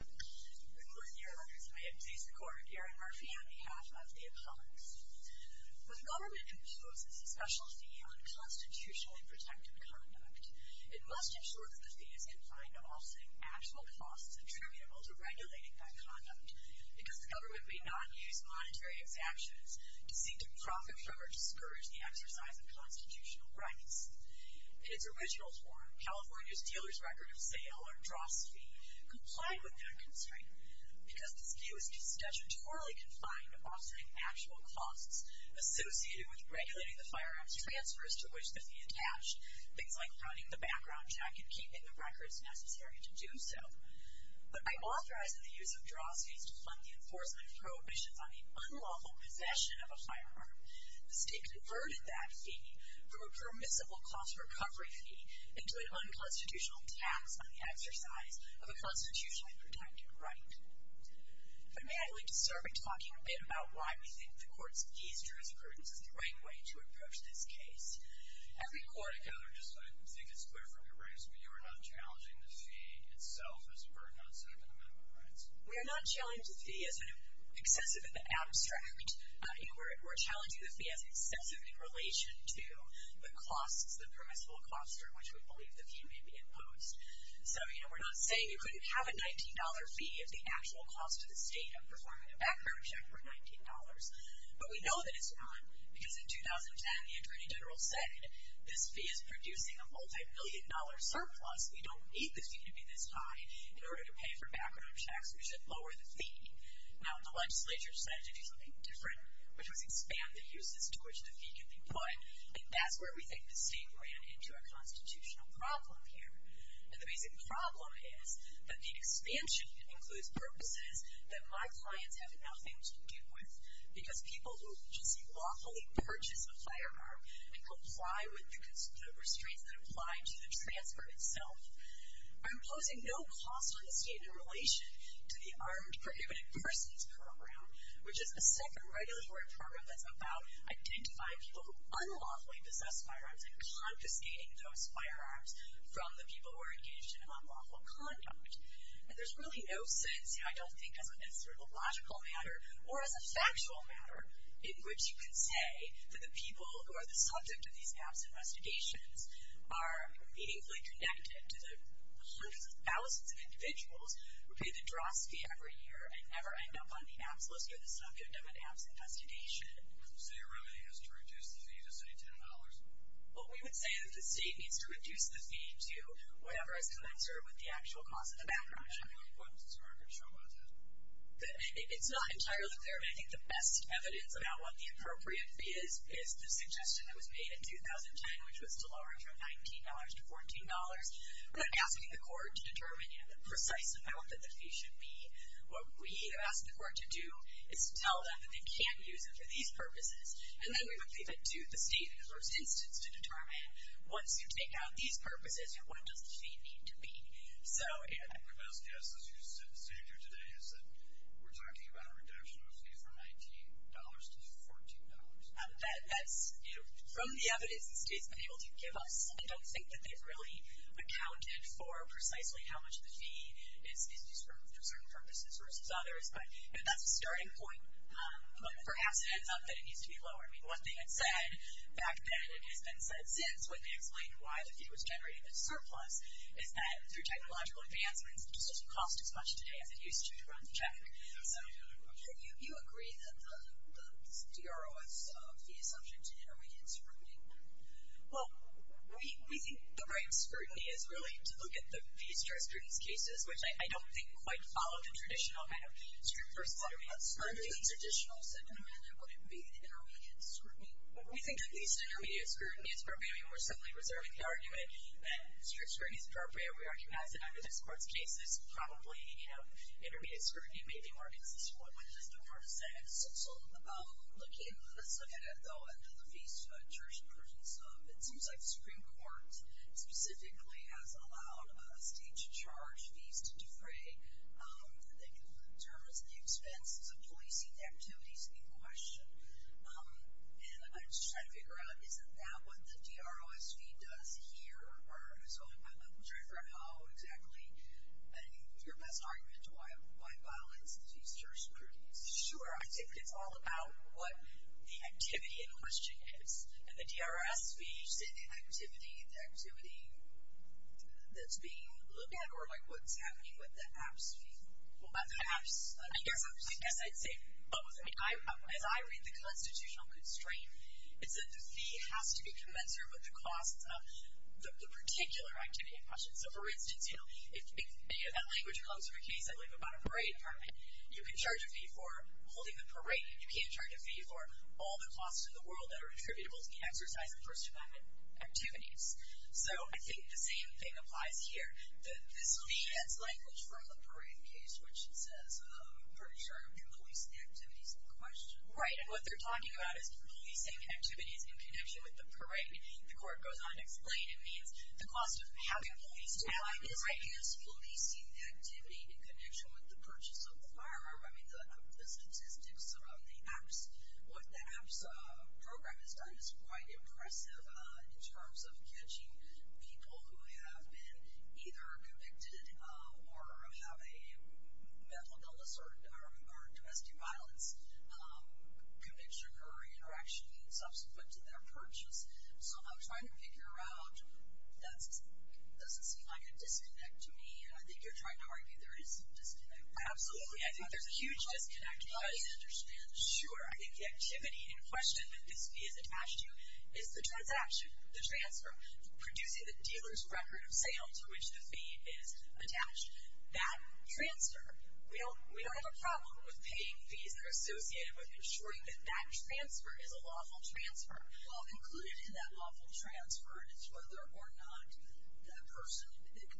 Good morning, dear listeners. I am Zisa Kornick, Aaron Murphy, on behalf of the Apollos. When a government imposes a special fee on constitutionally protected conduct, it must ensure that the fee is in line with all setting actual costs attributable to regulating that conduct, because the government may not use monetary exemptions to seek to profit from or discourage the exercise of constitutional rights. In its original form, California's Dealer's Record of Sale, or DROS fee, complied with that constraint, because the fee was statutorily confined to offering actual costs associated with regulating the firearm's transfers to which the fee attached, things like running the background check and keeping the records necessary to do so. But by authorizing the use of DROS fees to fund the enforcement of prohibitions on the unlawful possession of a firearm, the state converted that fee from a permissible cost recovery fee into an unconstitutional tax on the exercise of a constitutionally protected right. But may I just start by talking a bit about why we think the Court's fees jurisprudence is the right way to approach this case? Every court... I think it's clear from your briefs, but you are not challenging the fee itself as a burden on some of the minimum rights? We're challenging the fee as excessive in relation to the costs, the permissible costs for which we believe the fee may be imposed. So we're not saying you couldn't have a $19 fee if the actual cost to the state of performing a background check were $19. But we know that it's wrong, because in 2010, the Attorney General said, this fee is producing a multi-million dollar surplus. We don't need the fee to be this high. In order to pay for background checks, we should lower the fee. Now, the legislature decided to do something different, which was expand the uses to which the fee could be put, and that's where we think the state ran into a constitutional problem here. And the basic problem is that the expansion includes purposes that my clients have nothing to do with, because people who just lawfully purchase a firearm and comply with the restraints that apply to the transfer itself are imposing no cost on the state in relation to the Armed Prohibited Persons Program, which is a second regulatory program that's about identifying people who unlawfully possess firearms and confiscating those firearms from the people who are engaged in unlawful conduct. And there's really no sense, I don't think, as a logical matter or as a factual matter, in which you can say that the people who are the subject of these gaps in investigations are meaningfully connected to the hundreds of thousands of individuals who pay the dross fee every year and never end up on the APS list or the subject of an APS investigation. So your remedy is to reduce the fee to, say, $10? Well, we would say that the state needs to reduce the fee to whatever is commensurate with the actual cost of the background check. What does this market show about that? It's not entirely clear, but I think the best evidence about what the appropriate fee is is the suggestion that was made in 2010, which was to lower it from $19 to $14. We're not asking the court to determine the precise amount that the fee should be. What we ask the court to do is to tell them that they can use it for these purposes, and then we would leave it to the state, in the first instance, to determine once you take out these purposes, what does the fee need to be. My best guess as you sit here today is that we're talking about a reduction of a fee from $19 to $14. That's from the evidence the state's been able to give us. I don't think that they've really accounted for precisely how much the fee is used for certain purposes versus others, but that's a starting point. Perhaps it ends up that it needs to be lower. I mean, one thing that's said back then and has been said since when they explained why the fee was generating a surplus is that, through technological advancements, it just doesn't cost as much today as it used to to run the check. So you agree that the DRO fee is subject to intermediate scrutiny? Well, we think the right scrutiny is really to look at the fee-stripped students' cases, which I don't think quite follow the traditional kind of fee-stripped versus intermediate scrutiny. The traditional sentiment would be the intermediate scrutiny. We think that the intermediate scrutiny is appropriate. I mean, we're certainly reserving the argument that strict scrutiny is appropriate. We recognize that under this Court's cases, probably, you know, intermediate scrutiny may be more consistent with what the court has said. So looking at the fee-stripped church persons, it seems like the Supreme Court specifically has allowed the state to charge fees to defray. They can determine the expenses of policing activities in question. And I'm just trying to figure out, isn't that what the DROS fee does here? Or so I'm trying to figure out how exactly your best argument to why violates these jurisprudence. Sure. I think it's all about what the activity in question is. And the DROS fee, is it the activity that's being looked at or, like, what's happening with the APS fee? What about the APS? I guess I'd say both. I mean, as I read the constitutional constraint, it's that the fee has to be commensurate with the costs of the particular activity in question. So, for instance, you know, if that language comes from a case, I believe, about a parade department, you can charge a fee for holding the parade. You can't charge a fee for all the costs in the world that are attributable to the exercise of First Amendment activities. So I think the same thing applies here. This fee gets language from the parade case, which says, I'm pretty sure you can police the activities in question. Right. And what they're talking about is policing activities in connection with the parade. The court goes on to explain it means the cost of having police to do it. I guess policing the activity in connection with the purchase of the firearm. I mean, the statistics around the APS, what the APS program has done is quite impressive in terms of catching people who have been either convicted or have a mental illness or domestic violence conviction or interaction subsequent to their purchase. So I'm trying to figure out, that doesn't seem like a disconnect to me. I think you're trying to argue there is a disconnect. Absolutely. I think there's a huge disconnect, if I can understand. Sure. I think the activity in question that this fee is attached to is the transaction, the transfer, producing the dealer's record of sale to which the fee is attached. That transfer, we don't have a problem with paying fees that are associated with ensuring that that transfer is a lawful transfer. Well, included in that lawful transfer is whether or not the person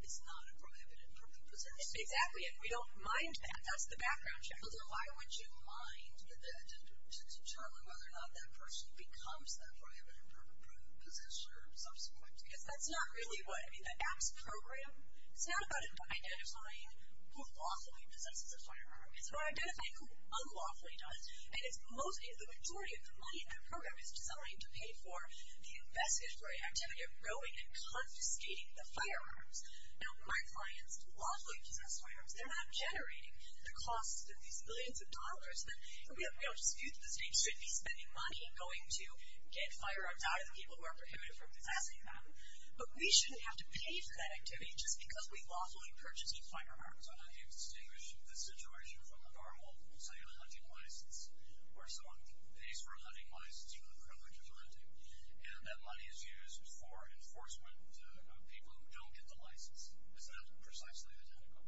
is not a prohibited person. Exactly. And we don't mind that. That's the background check. Well, then why would you mind determining whether or not that person becomes that prohibited or prohibited position or subsequent? Because that's not really what, I mean, the APS program, it's not about identifying who lawfully possesses a firearm. It's about identifying who unlawfully does. And the majority of the money in that program is designed to pay for the investigatory activity of growing and confiscating the firearms. Now, my clients lawfully possess firearms. They're not generating the cost of these millions of dollars that, you know, just a few of the states should be spending money going to get firearms out of the people who are prohibited from possessing them. But we shouldn't have to pay for that activity just because we lawfully purchase a firearm. So how do you distinguish the situation from a normal, say, a hunting license, where someone pays for a hunting license for the privilege of hunting, and that money is used for enforcement of people who don't get the license? Is that precisely identical?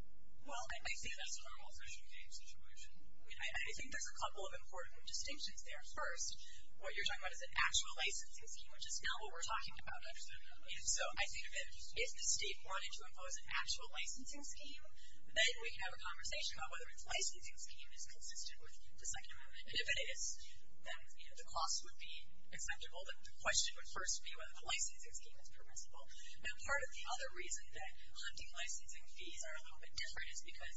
Well, I think that's a normal social game situation. I mean, I think there's a couple of important distinctions there. First, what you're talking about is an actual licensing scheme, which is now what we're talking about, actually. So I think that if the state wanted to impose an actual licensing scheme, then we can have a conversation about whether its licensing scheme is consistent with the second amendment. And if it is, then, you know, the cost would be acceptable. But the question would first be whether the licensing scheme is permissible. Now, part of the other reason that hunting licensing fees are a little bit different is because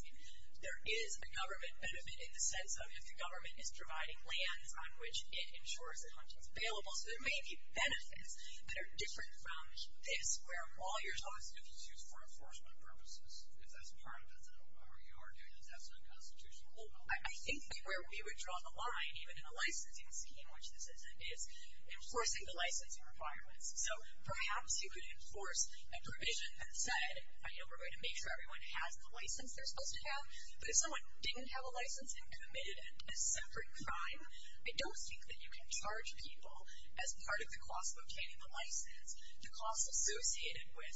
there is a government benefit in the sense of, if the government is providing lands on which it ensures that hunting is available, so there may be benefits that are different from this, where all you're talking about is if it's used for enforcement purposes. If that's part of it, then I don't know whether you are doing this. That's unconstitutional. Well, I think that where we would draw the line, even in a licensing scheme, which this isn't, is enforcing the licensing requirements. So perhaps you could enforce a provision that said, you know, we're going to make sure everyone has the license they're supposed to have. But if someone didn't have a license and committed a separate crime, I don't think that you can charge people as part of the cost of obtaining the license the cost associated with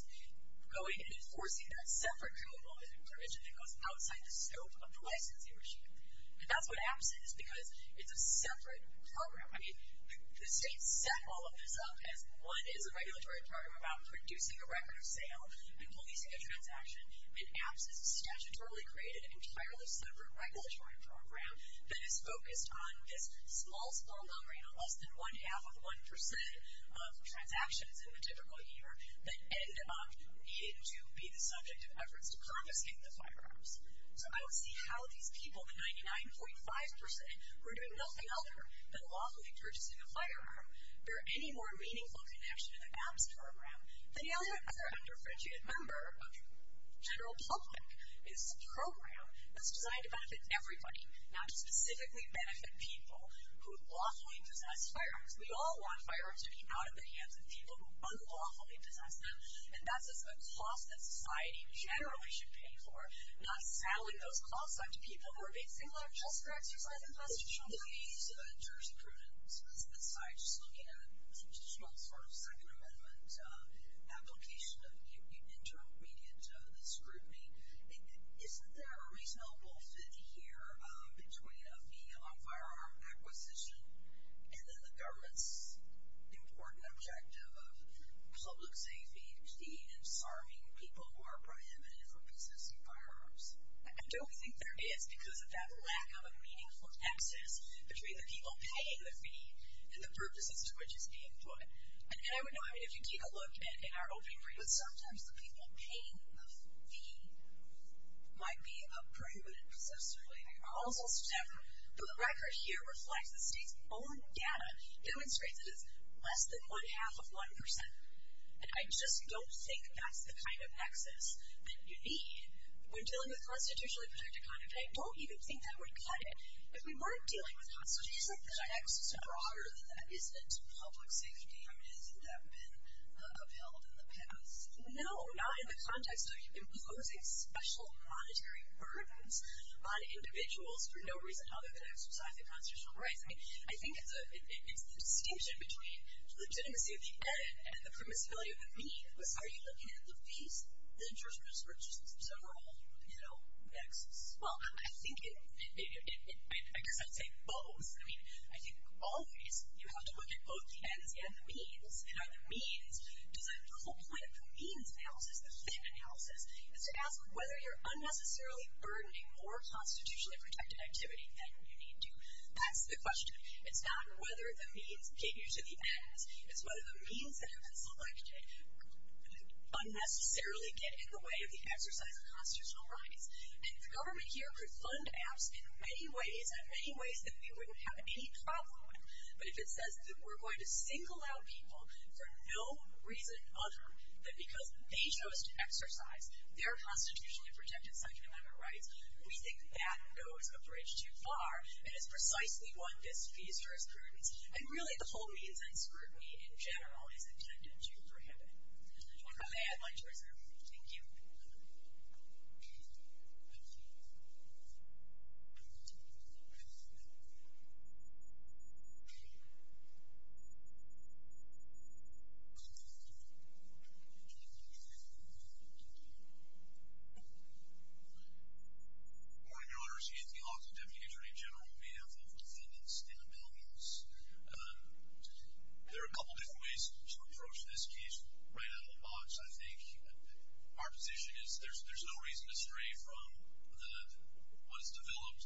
going and enforcing that separate criminal provision that goes outside the scope of the licensing regime. And that's what happens is because it's a separate program. I mean, the state set all of this up as what is a regulatory program about producing a record of sale and policing a transaction. And APPS has statutorily created an entirely separate regulatory program that is focused on this small, small number, you know, less than one-half of 1% of transactions in the typical year that end up needing to be the subject of efforts to confiscate the firearms. So I would see how these people, the 99.5%, who are doing nothing other than lawfully purchasing a firearm, bear any more meaningful connection to the APPS program than any other under-franchised member of the general public. It's a program that's designed to benefit everybody, not to specifically benefit people who lawfully possess firearms. We all want firearms to be out of the hands of people who unlawfully possess them. And that's a cost that society generally should pay for, not selling those costs out to people who are basically just exercising constitutional rights. In terms of prudence aside, just looking at a traditional sort of Second Amendment application of intermediate scrutiny, isn't there a reasonable fit here between a fee on firearm acquisition and then the government's important objective of public safety and serving people who are prohibited from possessing firearms? I don't think there is, because of that lack of a meaningful axis between the people paying the fee and the purposes to which it's being put. And I would know, I mean, if you take a look in our opening report, sometimes the people paying the fee might be a prohibited possessor. They are also separate. But the record here reflects the state's own data, demonstrates it is less than one-half of 1%. And I just don't think that's the kind of axis that you need when dealing with constitutionally protected conduct. And I don't even think that would cut it. If we weren't dealing with constitutional conduct, isn't the axis broader than that? Isn't it public safety? I mean, hasn't that been upheld in the past? No, not in the context of imposing special monetary burdens on individuals for no reason other than to exercise their constitutional rights. I think it's the distinction between legitimacy of the end and the permissibility of the means. Are you looking at the fees, the jurisprudence, or just the general, you know, nexus? Well, I think it, I guess I'd say both. I mean, I think always you have to look at both the ends and the means. And are the means, because the whole point of the means analysis, the fit analysis, is to ask whether you're unnecessarily burdening more constitutionally protected activity than you need to. That's the question. It's not whether the means get you to the ends. It's whether the means that have been selected unnecessarily get in the way of the exercise of constitutional rights. And the government here could fund apps in many ways, in many ways that we wouldn't have any problem with. But if it says that we're going to single out people for no reason other than because they chose to exercise their constitutionally protected Second Amendment rights, we think that goes a bridge too far and is precisely what this fees jurisprudence, and really the whole means and scrutiny in general, is intended to prohibit. Thank you. Thank you. Good morning, Your Honors. Anthony Hawkins, Deputy Attorney General, behalf of Defendants and Appealings. There are a couple different ways to approach this case. Right out of the box, I think, our position is there's no reason to stray from what is developed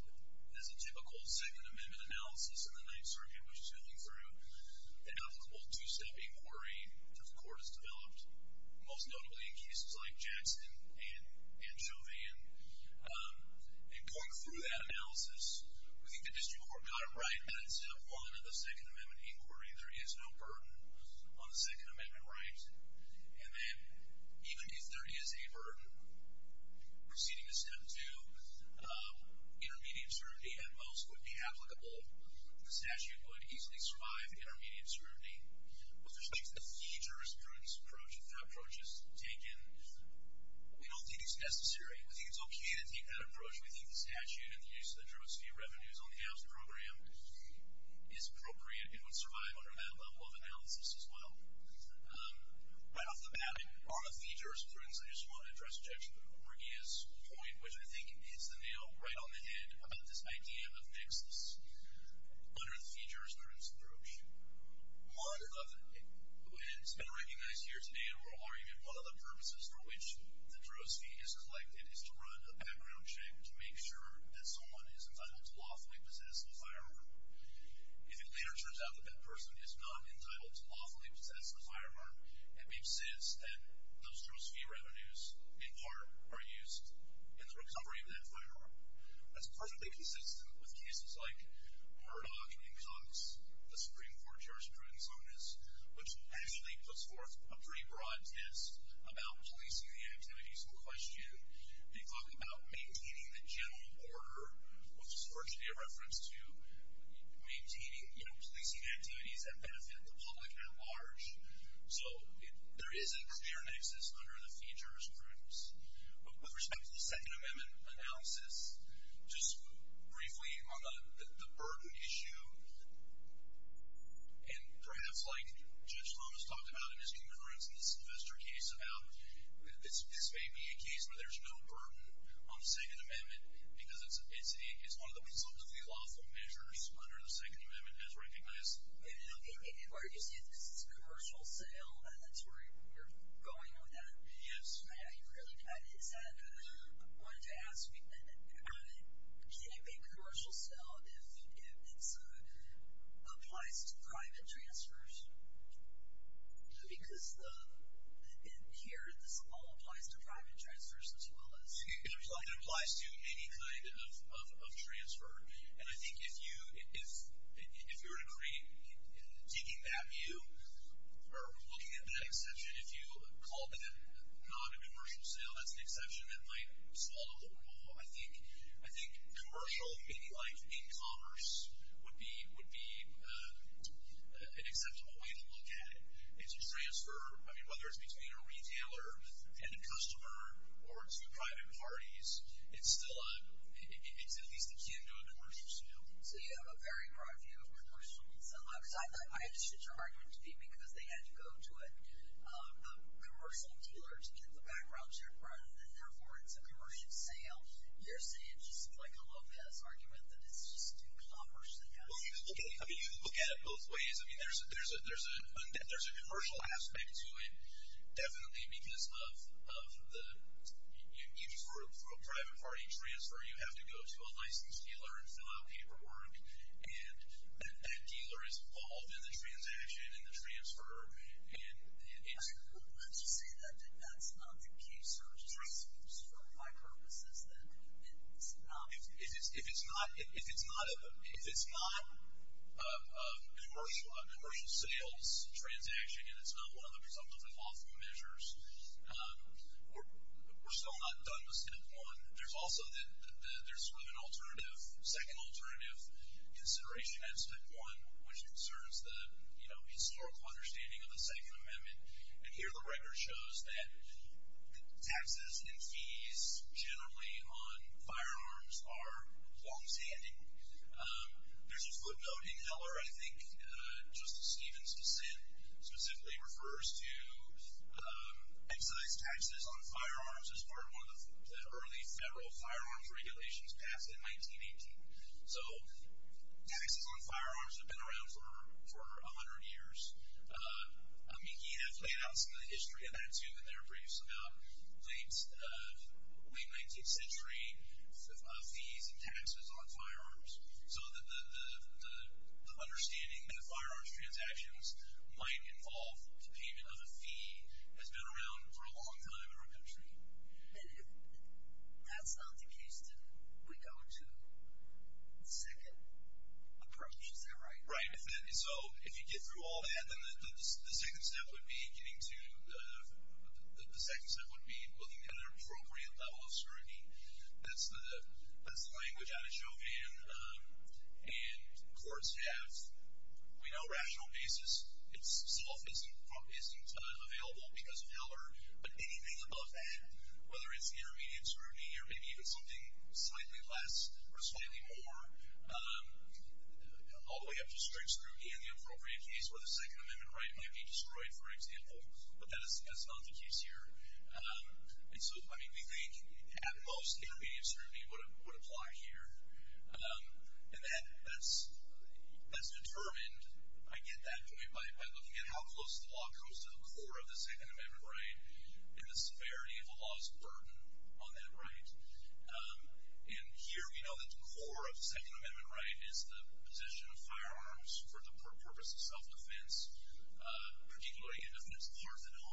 as a typical Second Amendment analysis in the Ninth Circuit, which is going through an applicable two-step inquiry, which the court has developed, most notably in cases like Jackson and Chauvin. And going through that analysis, we think the district court got it right that instead of falling into the Second Amendment inquiry, there is no burden on the Second Amendment rights. And then even if there is a burden, proceeding to Step 2, intermediate scrutiny at most would be applicable. The statute would easily survive intermediate scrutiny. With respect to the fees jurisprudence approach, if that approach is taken, we don't think it's necessary. We think it's okay to take that approach. We think the statute and the use of the drugs fee revenues on the housing program is appropriate and would survive under that level of analysis as well. Right off the bat, on the fees jurisprudence, I just want to address Jackson and Corrigia's point, which I think hits the nail right on the head about this idea of nixness under the fees jurisprudence approach. One of the, and it's been recognized here today in oral argument, one of the purposes for which the drugs fee is collected is to run a background check to make sure that someone is entitled to lawfully possess a firearm. If it later turns out that that person is not entitled to lawfully possess a firearm, it makes sense that those drugs fee revenues, in part, are used in the recovery of that firearm. That's perfectly consistent with cases like Murdoch and Cox, the Supreme Court jurisprudence on this, which actually puts forth a pretty broad test about policing the activities in question. They talk about maintaining the general order, which is virtually a reference to maintaining, you know, policing activities that benefit the public at large. So there is a clear nixness under the fees jurisprudence. With respect to the Second Amendment analysis, just briefly on the burden issue, and perhaps like Judge Thomas talked about in his concurrence in this investor case about this may be a case where there's no burden on the Second Amendment because it's one of the consultatively lawful measures under the Second Amendment as recognized. In part, you say this is a commercial sale, and that's where you're going with that. Yes. Is that what I wanted to ask? Can you make a commercial sale if it applies to private transfers? Because in here, this all applies to private transfers as well as. It applies to any kind of transfer. And I think if you were to create, taking that view or looking at that exception, if you call that not a commercial sale, that's an exception that might swallow the rule. I think commercial, maybe like in commerce, would be an acceptable way to look at it. If you transfer, I mean, whether it's between a retailer and a customer or to private parties, it's at least akin to a commercial sale. So you have a very broad view of commercial. I understood your argument to be because they had to go to a commercial dealer to get the background check rather than therefore it's a commercial sale. You're saying, just like a Lopez argument, that it's just too commerce-y. You can look at it both ways. I mean, there's a commercial aspect to it definitely because of the each group, for a private party transfer, you have to go to a licensed dealer and fill out paperwork. And that dealer is involved in the transaction and the transfer. Let's just say that that's not the case. It just seems for my purposes that it's not. If it's not a commercial sales transaction and it's not one of the presumptive involvement measures, we're still not done with Step 1. There's also sort of an alternative, second alternative consideration at Step 1, which concerns the historical understanding of the Second Amendment. And here the record shows that taxes and fees generally on firearms are longstanding. There's a footnote in Heller, I think, Justice Stevens' dissent, specifically refers to excise taxes on firearms as part of one of the early federal firearms regulations passed in 1918. So taxes on firearms have been around for 100 years. I mean, he has laid out some of the history of that too in their briefs about late 19th century fees and taxes on firearms. So the understanding that firearms transactions might involve the payment of a fee has been around for a long time in our country. And if that's not the case, then we go to the second approach, is that right? Right. So if you get through all that, then the second step would be getting to the – the second step would be looking at an appropriate level of scrutiny. That's the language out of Chauvin and court staff. We know rational basis itself isn't available because of Heller, but anything above that, whether it's intermediate scrutiny or maybe even something slightly less or slightly more, all the way up to strict scrutiny in the appropriate case where the Second Amendment right may be destroyed, for example, but that is not the case here. And so, I mean, we think at most intermediate scrutiny would apply here. And that's determined, I get that point, by looking at how close the law comes to the core of the Second Amendment right and the severity of the law's burden on that right. And here we know that the core of the Second Amendment right is the position of firearms for the purpose of self-defense, particularly in defense of arsenal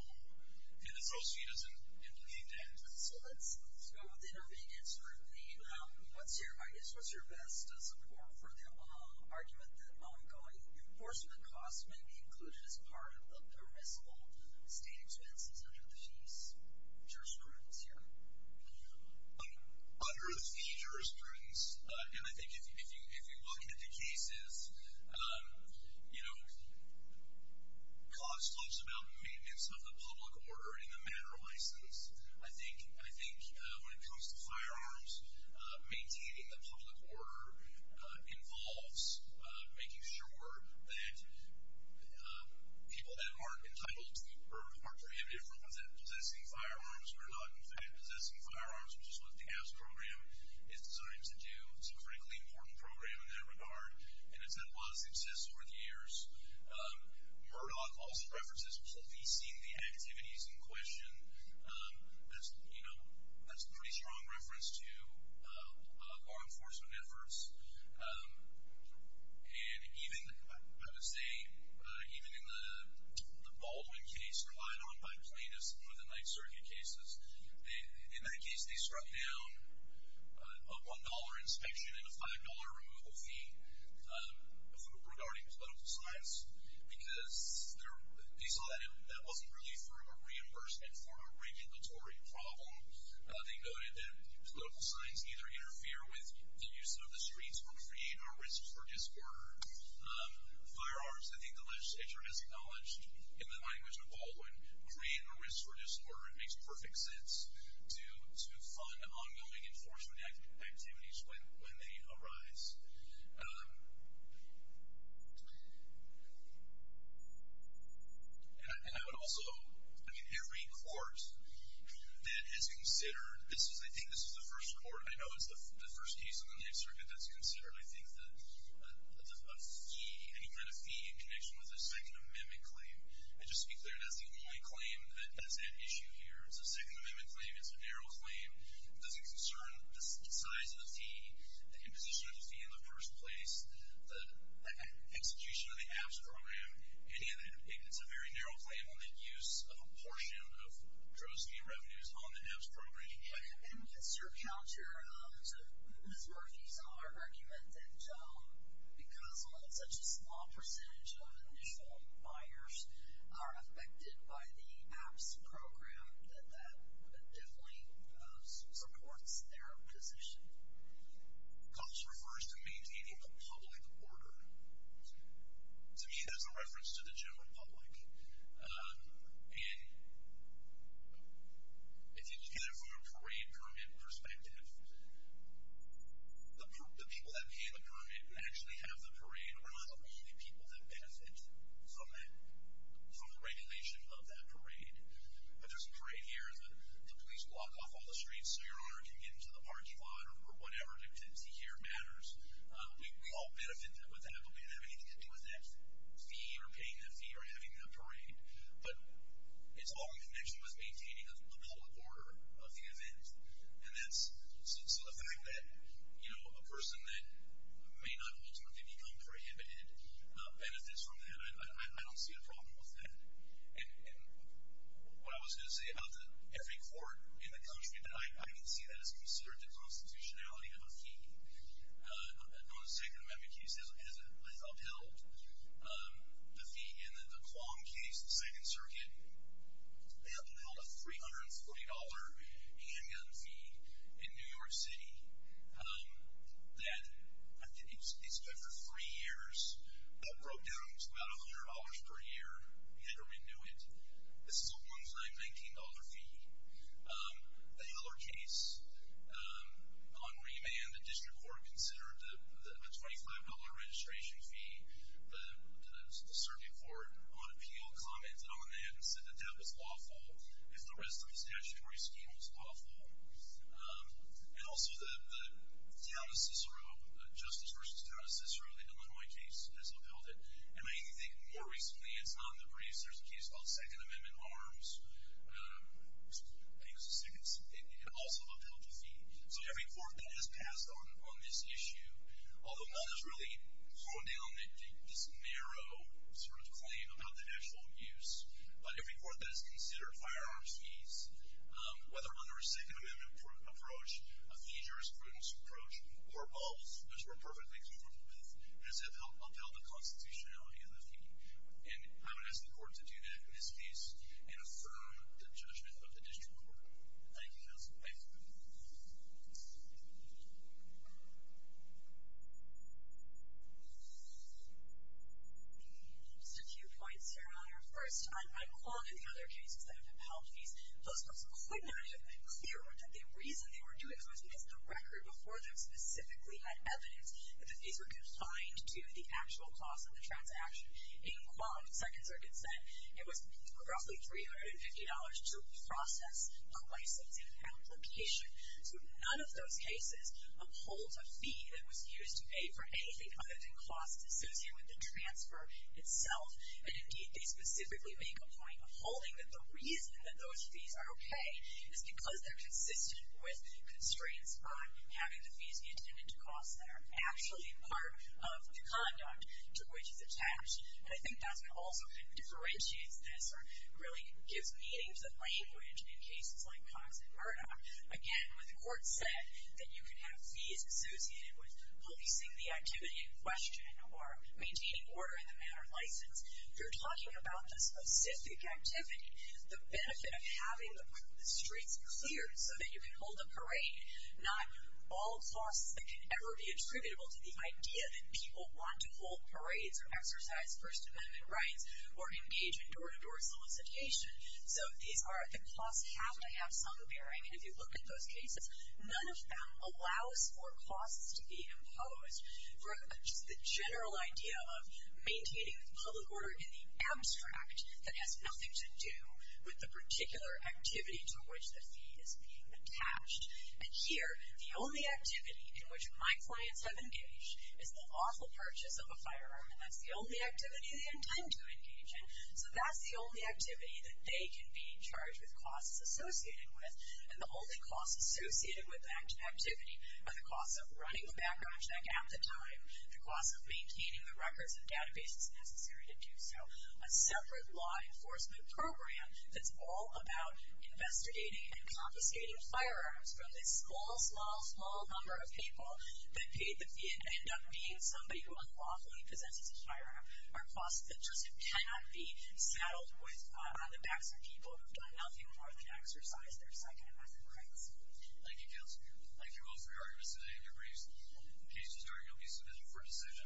and the proceeds in plea debt. So let's go with intermediate scrutiny. What's your best support for the argument that ongoing enforcement costs may be included as part of the permissible state expenses under the fee jurisprudence here? Under the fee jurisprudence, and I think if you look at the cases, you know, cost talks about maintenance of the public order and the manner of license. I think when it comes to firearms, maintaining the public order involves making sure that people that aren't entitled to or aren't prohibited from possessing firearms or not in fact possessing firearms, which is what the AFSC program is designed to do. It's a critically important program in that regard, and it's had a lot of success over the years. Murdoch also references policing the activities in question. That's a pretty strong reference to law enforcement efforts. And even, I would say, even in the Baldwin case relied on by plaintiffs, one of the Ninth Circuit cases, in that case they struck down a $1 inspection and a $5 removal fee regarding political signs because they saw that that wasn't really for a reimbursement for a regulatory problem. They noted that political signs either interfere with the use of the streets or create a risk for disorder. Firearms, I think the legislature has acknowledged in the language of Baldwin, create a risk for disorder. It makes perfect sense to fund ongoing enforcement activities when they arise. And I would also, I mean, every court that has considered, I think this is the first court, I know, it's the first case in the Ninth Circuit that's considered, I think, a fee, any kind of fee in connection with a Second Amendment claim. And just to be clear, that's the only claim that's at issue here. It's a Second Amendment claim. It's a narrow claim. It doesn't concern the size of the fee, the imposition of the fee in the first place, the execution of the ABS program, any of that. It's a very narrow claim on the use of a portion of drowsy revenues on the ABS program. And what's your counter to Ms. Murphy's argument that because such a small percentage of initial buyers are affected by the ABS program, that that definitely supports their position? Cops refers to maintaining a public order. To me, there's a reference to the general public. And if you look at it from a parade permit perspective, the people that pay the permit actually have the parade. We're not the only people that benefit from the regulation of that parade. But there's a parade here, and the police block off all the streets so your owner can get into the parking lot or whatever dictancy here matters. We all benefit with that, but we don't have anything to do with that fee or the people that are paying that fee or having that parade. But it's all in connection with maintaining a public order of the event. And so the fact that a person that may not ultimately become prohibited benefits from that, I don't see a problem with that. And what I was going to say about every court in the country, I can see that as considered the constitutionality of a fee. On the Second Amendment case, it was upheld. The fee in the Duquam case, the Second Circuit, they upheld a $340 handgun fee in New York City. It's been for three years. That broke down to about $100 per year. We had to renew it. This is a one-time $19 fee. The Heller case, on remand, the district court considered a $25 registration fee. The circuit court, on appeal, commented on that and said that that was lawful if the rest of the statutory scheme was lawful. And also the Justice v. Town of Cicero, the Illinois case, has upheld it. And I think more recently, it's not in the briefs, but there's a case called Second Amendment Arms. I think it's the second. It also upheld the fee. So every court that has passed on this issue, although none has really thrown down this narrow claim about the actual use, but every court that has considered firearms fees, whether under a Second Amendment approach, a fee jurisprudence approach, or both, which we're perfectly comfortable with, has upheld the constitutionality of the fee. And I would ask the court to do that in this case and affirm the judgment of the district court. Thank you, counsel. Thank you. Just a few points here on your first. I'm calling on the other cases that have upheld fees. Those ones could not have been clearer. The reason they were doing so is because the record before them specifically had evidence that the fees were confined to the actual cost of the transaction. In Quam, Second Circuit said it was roughly $350 to process a licensing application. So none of those cases upholds a fee that was used to aid for anything other than costs associated with the transfer itself. And, indeed, they specifically make a point upholding that the reason that those fees are okay is because they're consistent with constraints on having the fees be attended to costs that are actually part of the conduct to which it's attached. And I think that's what also differentiates this or really gives meaning to the language in cases like Cox and Murdoch. Again, when the court said that you can have fees associated with policing the activity in question or maintaining order in the manner of license, you're talking about the specific activity, the benefit of having the streets cleared so that you can hold a parade, not all costs that can ever be attributable to the idea that people want to hold or exercise First Amendment rights or engage in door-to-door solicitation. So the costs have to have some bearing. And if you look at those cases, none of them allows for costs to be imposed. Just the general idea of maintaining public order in the abstract that has nothing to do with the particular activity to which the fee is being attached. And here, the only activity in which my clients have engaged is the awful purchase of a firearm. And that's the only activity they intend to engage in. So that's the only activity that they can be charged with costs associated with. And the only costs associated with that activity are the costs of running the background check at the time, the costs of maintaining the records and databases necessary to do so, a separate law enforcement program that's all about investigating and confiscating firearms from this small, small, small number of people that paid the fee and end up being somebody who has a firearm are costs that just cannot be settled with on the backs of people who have done nothing more than exercise their Second Amendment rights. Thank you, Counselor. Thank you all for your arguments today and your briefs. In case you're sorry, you'll be submitted for a decision.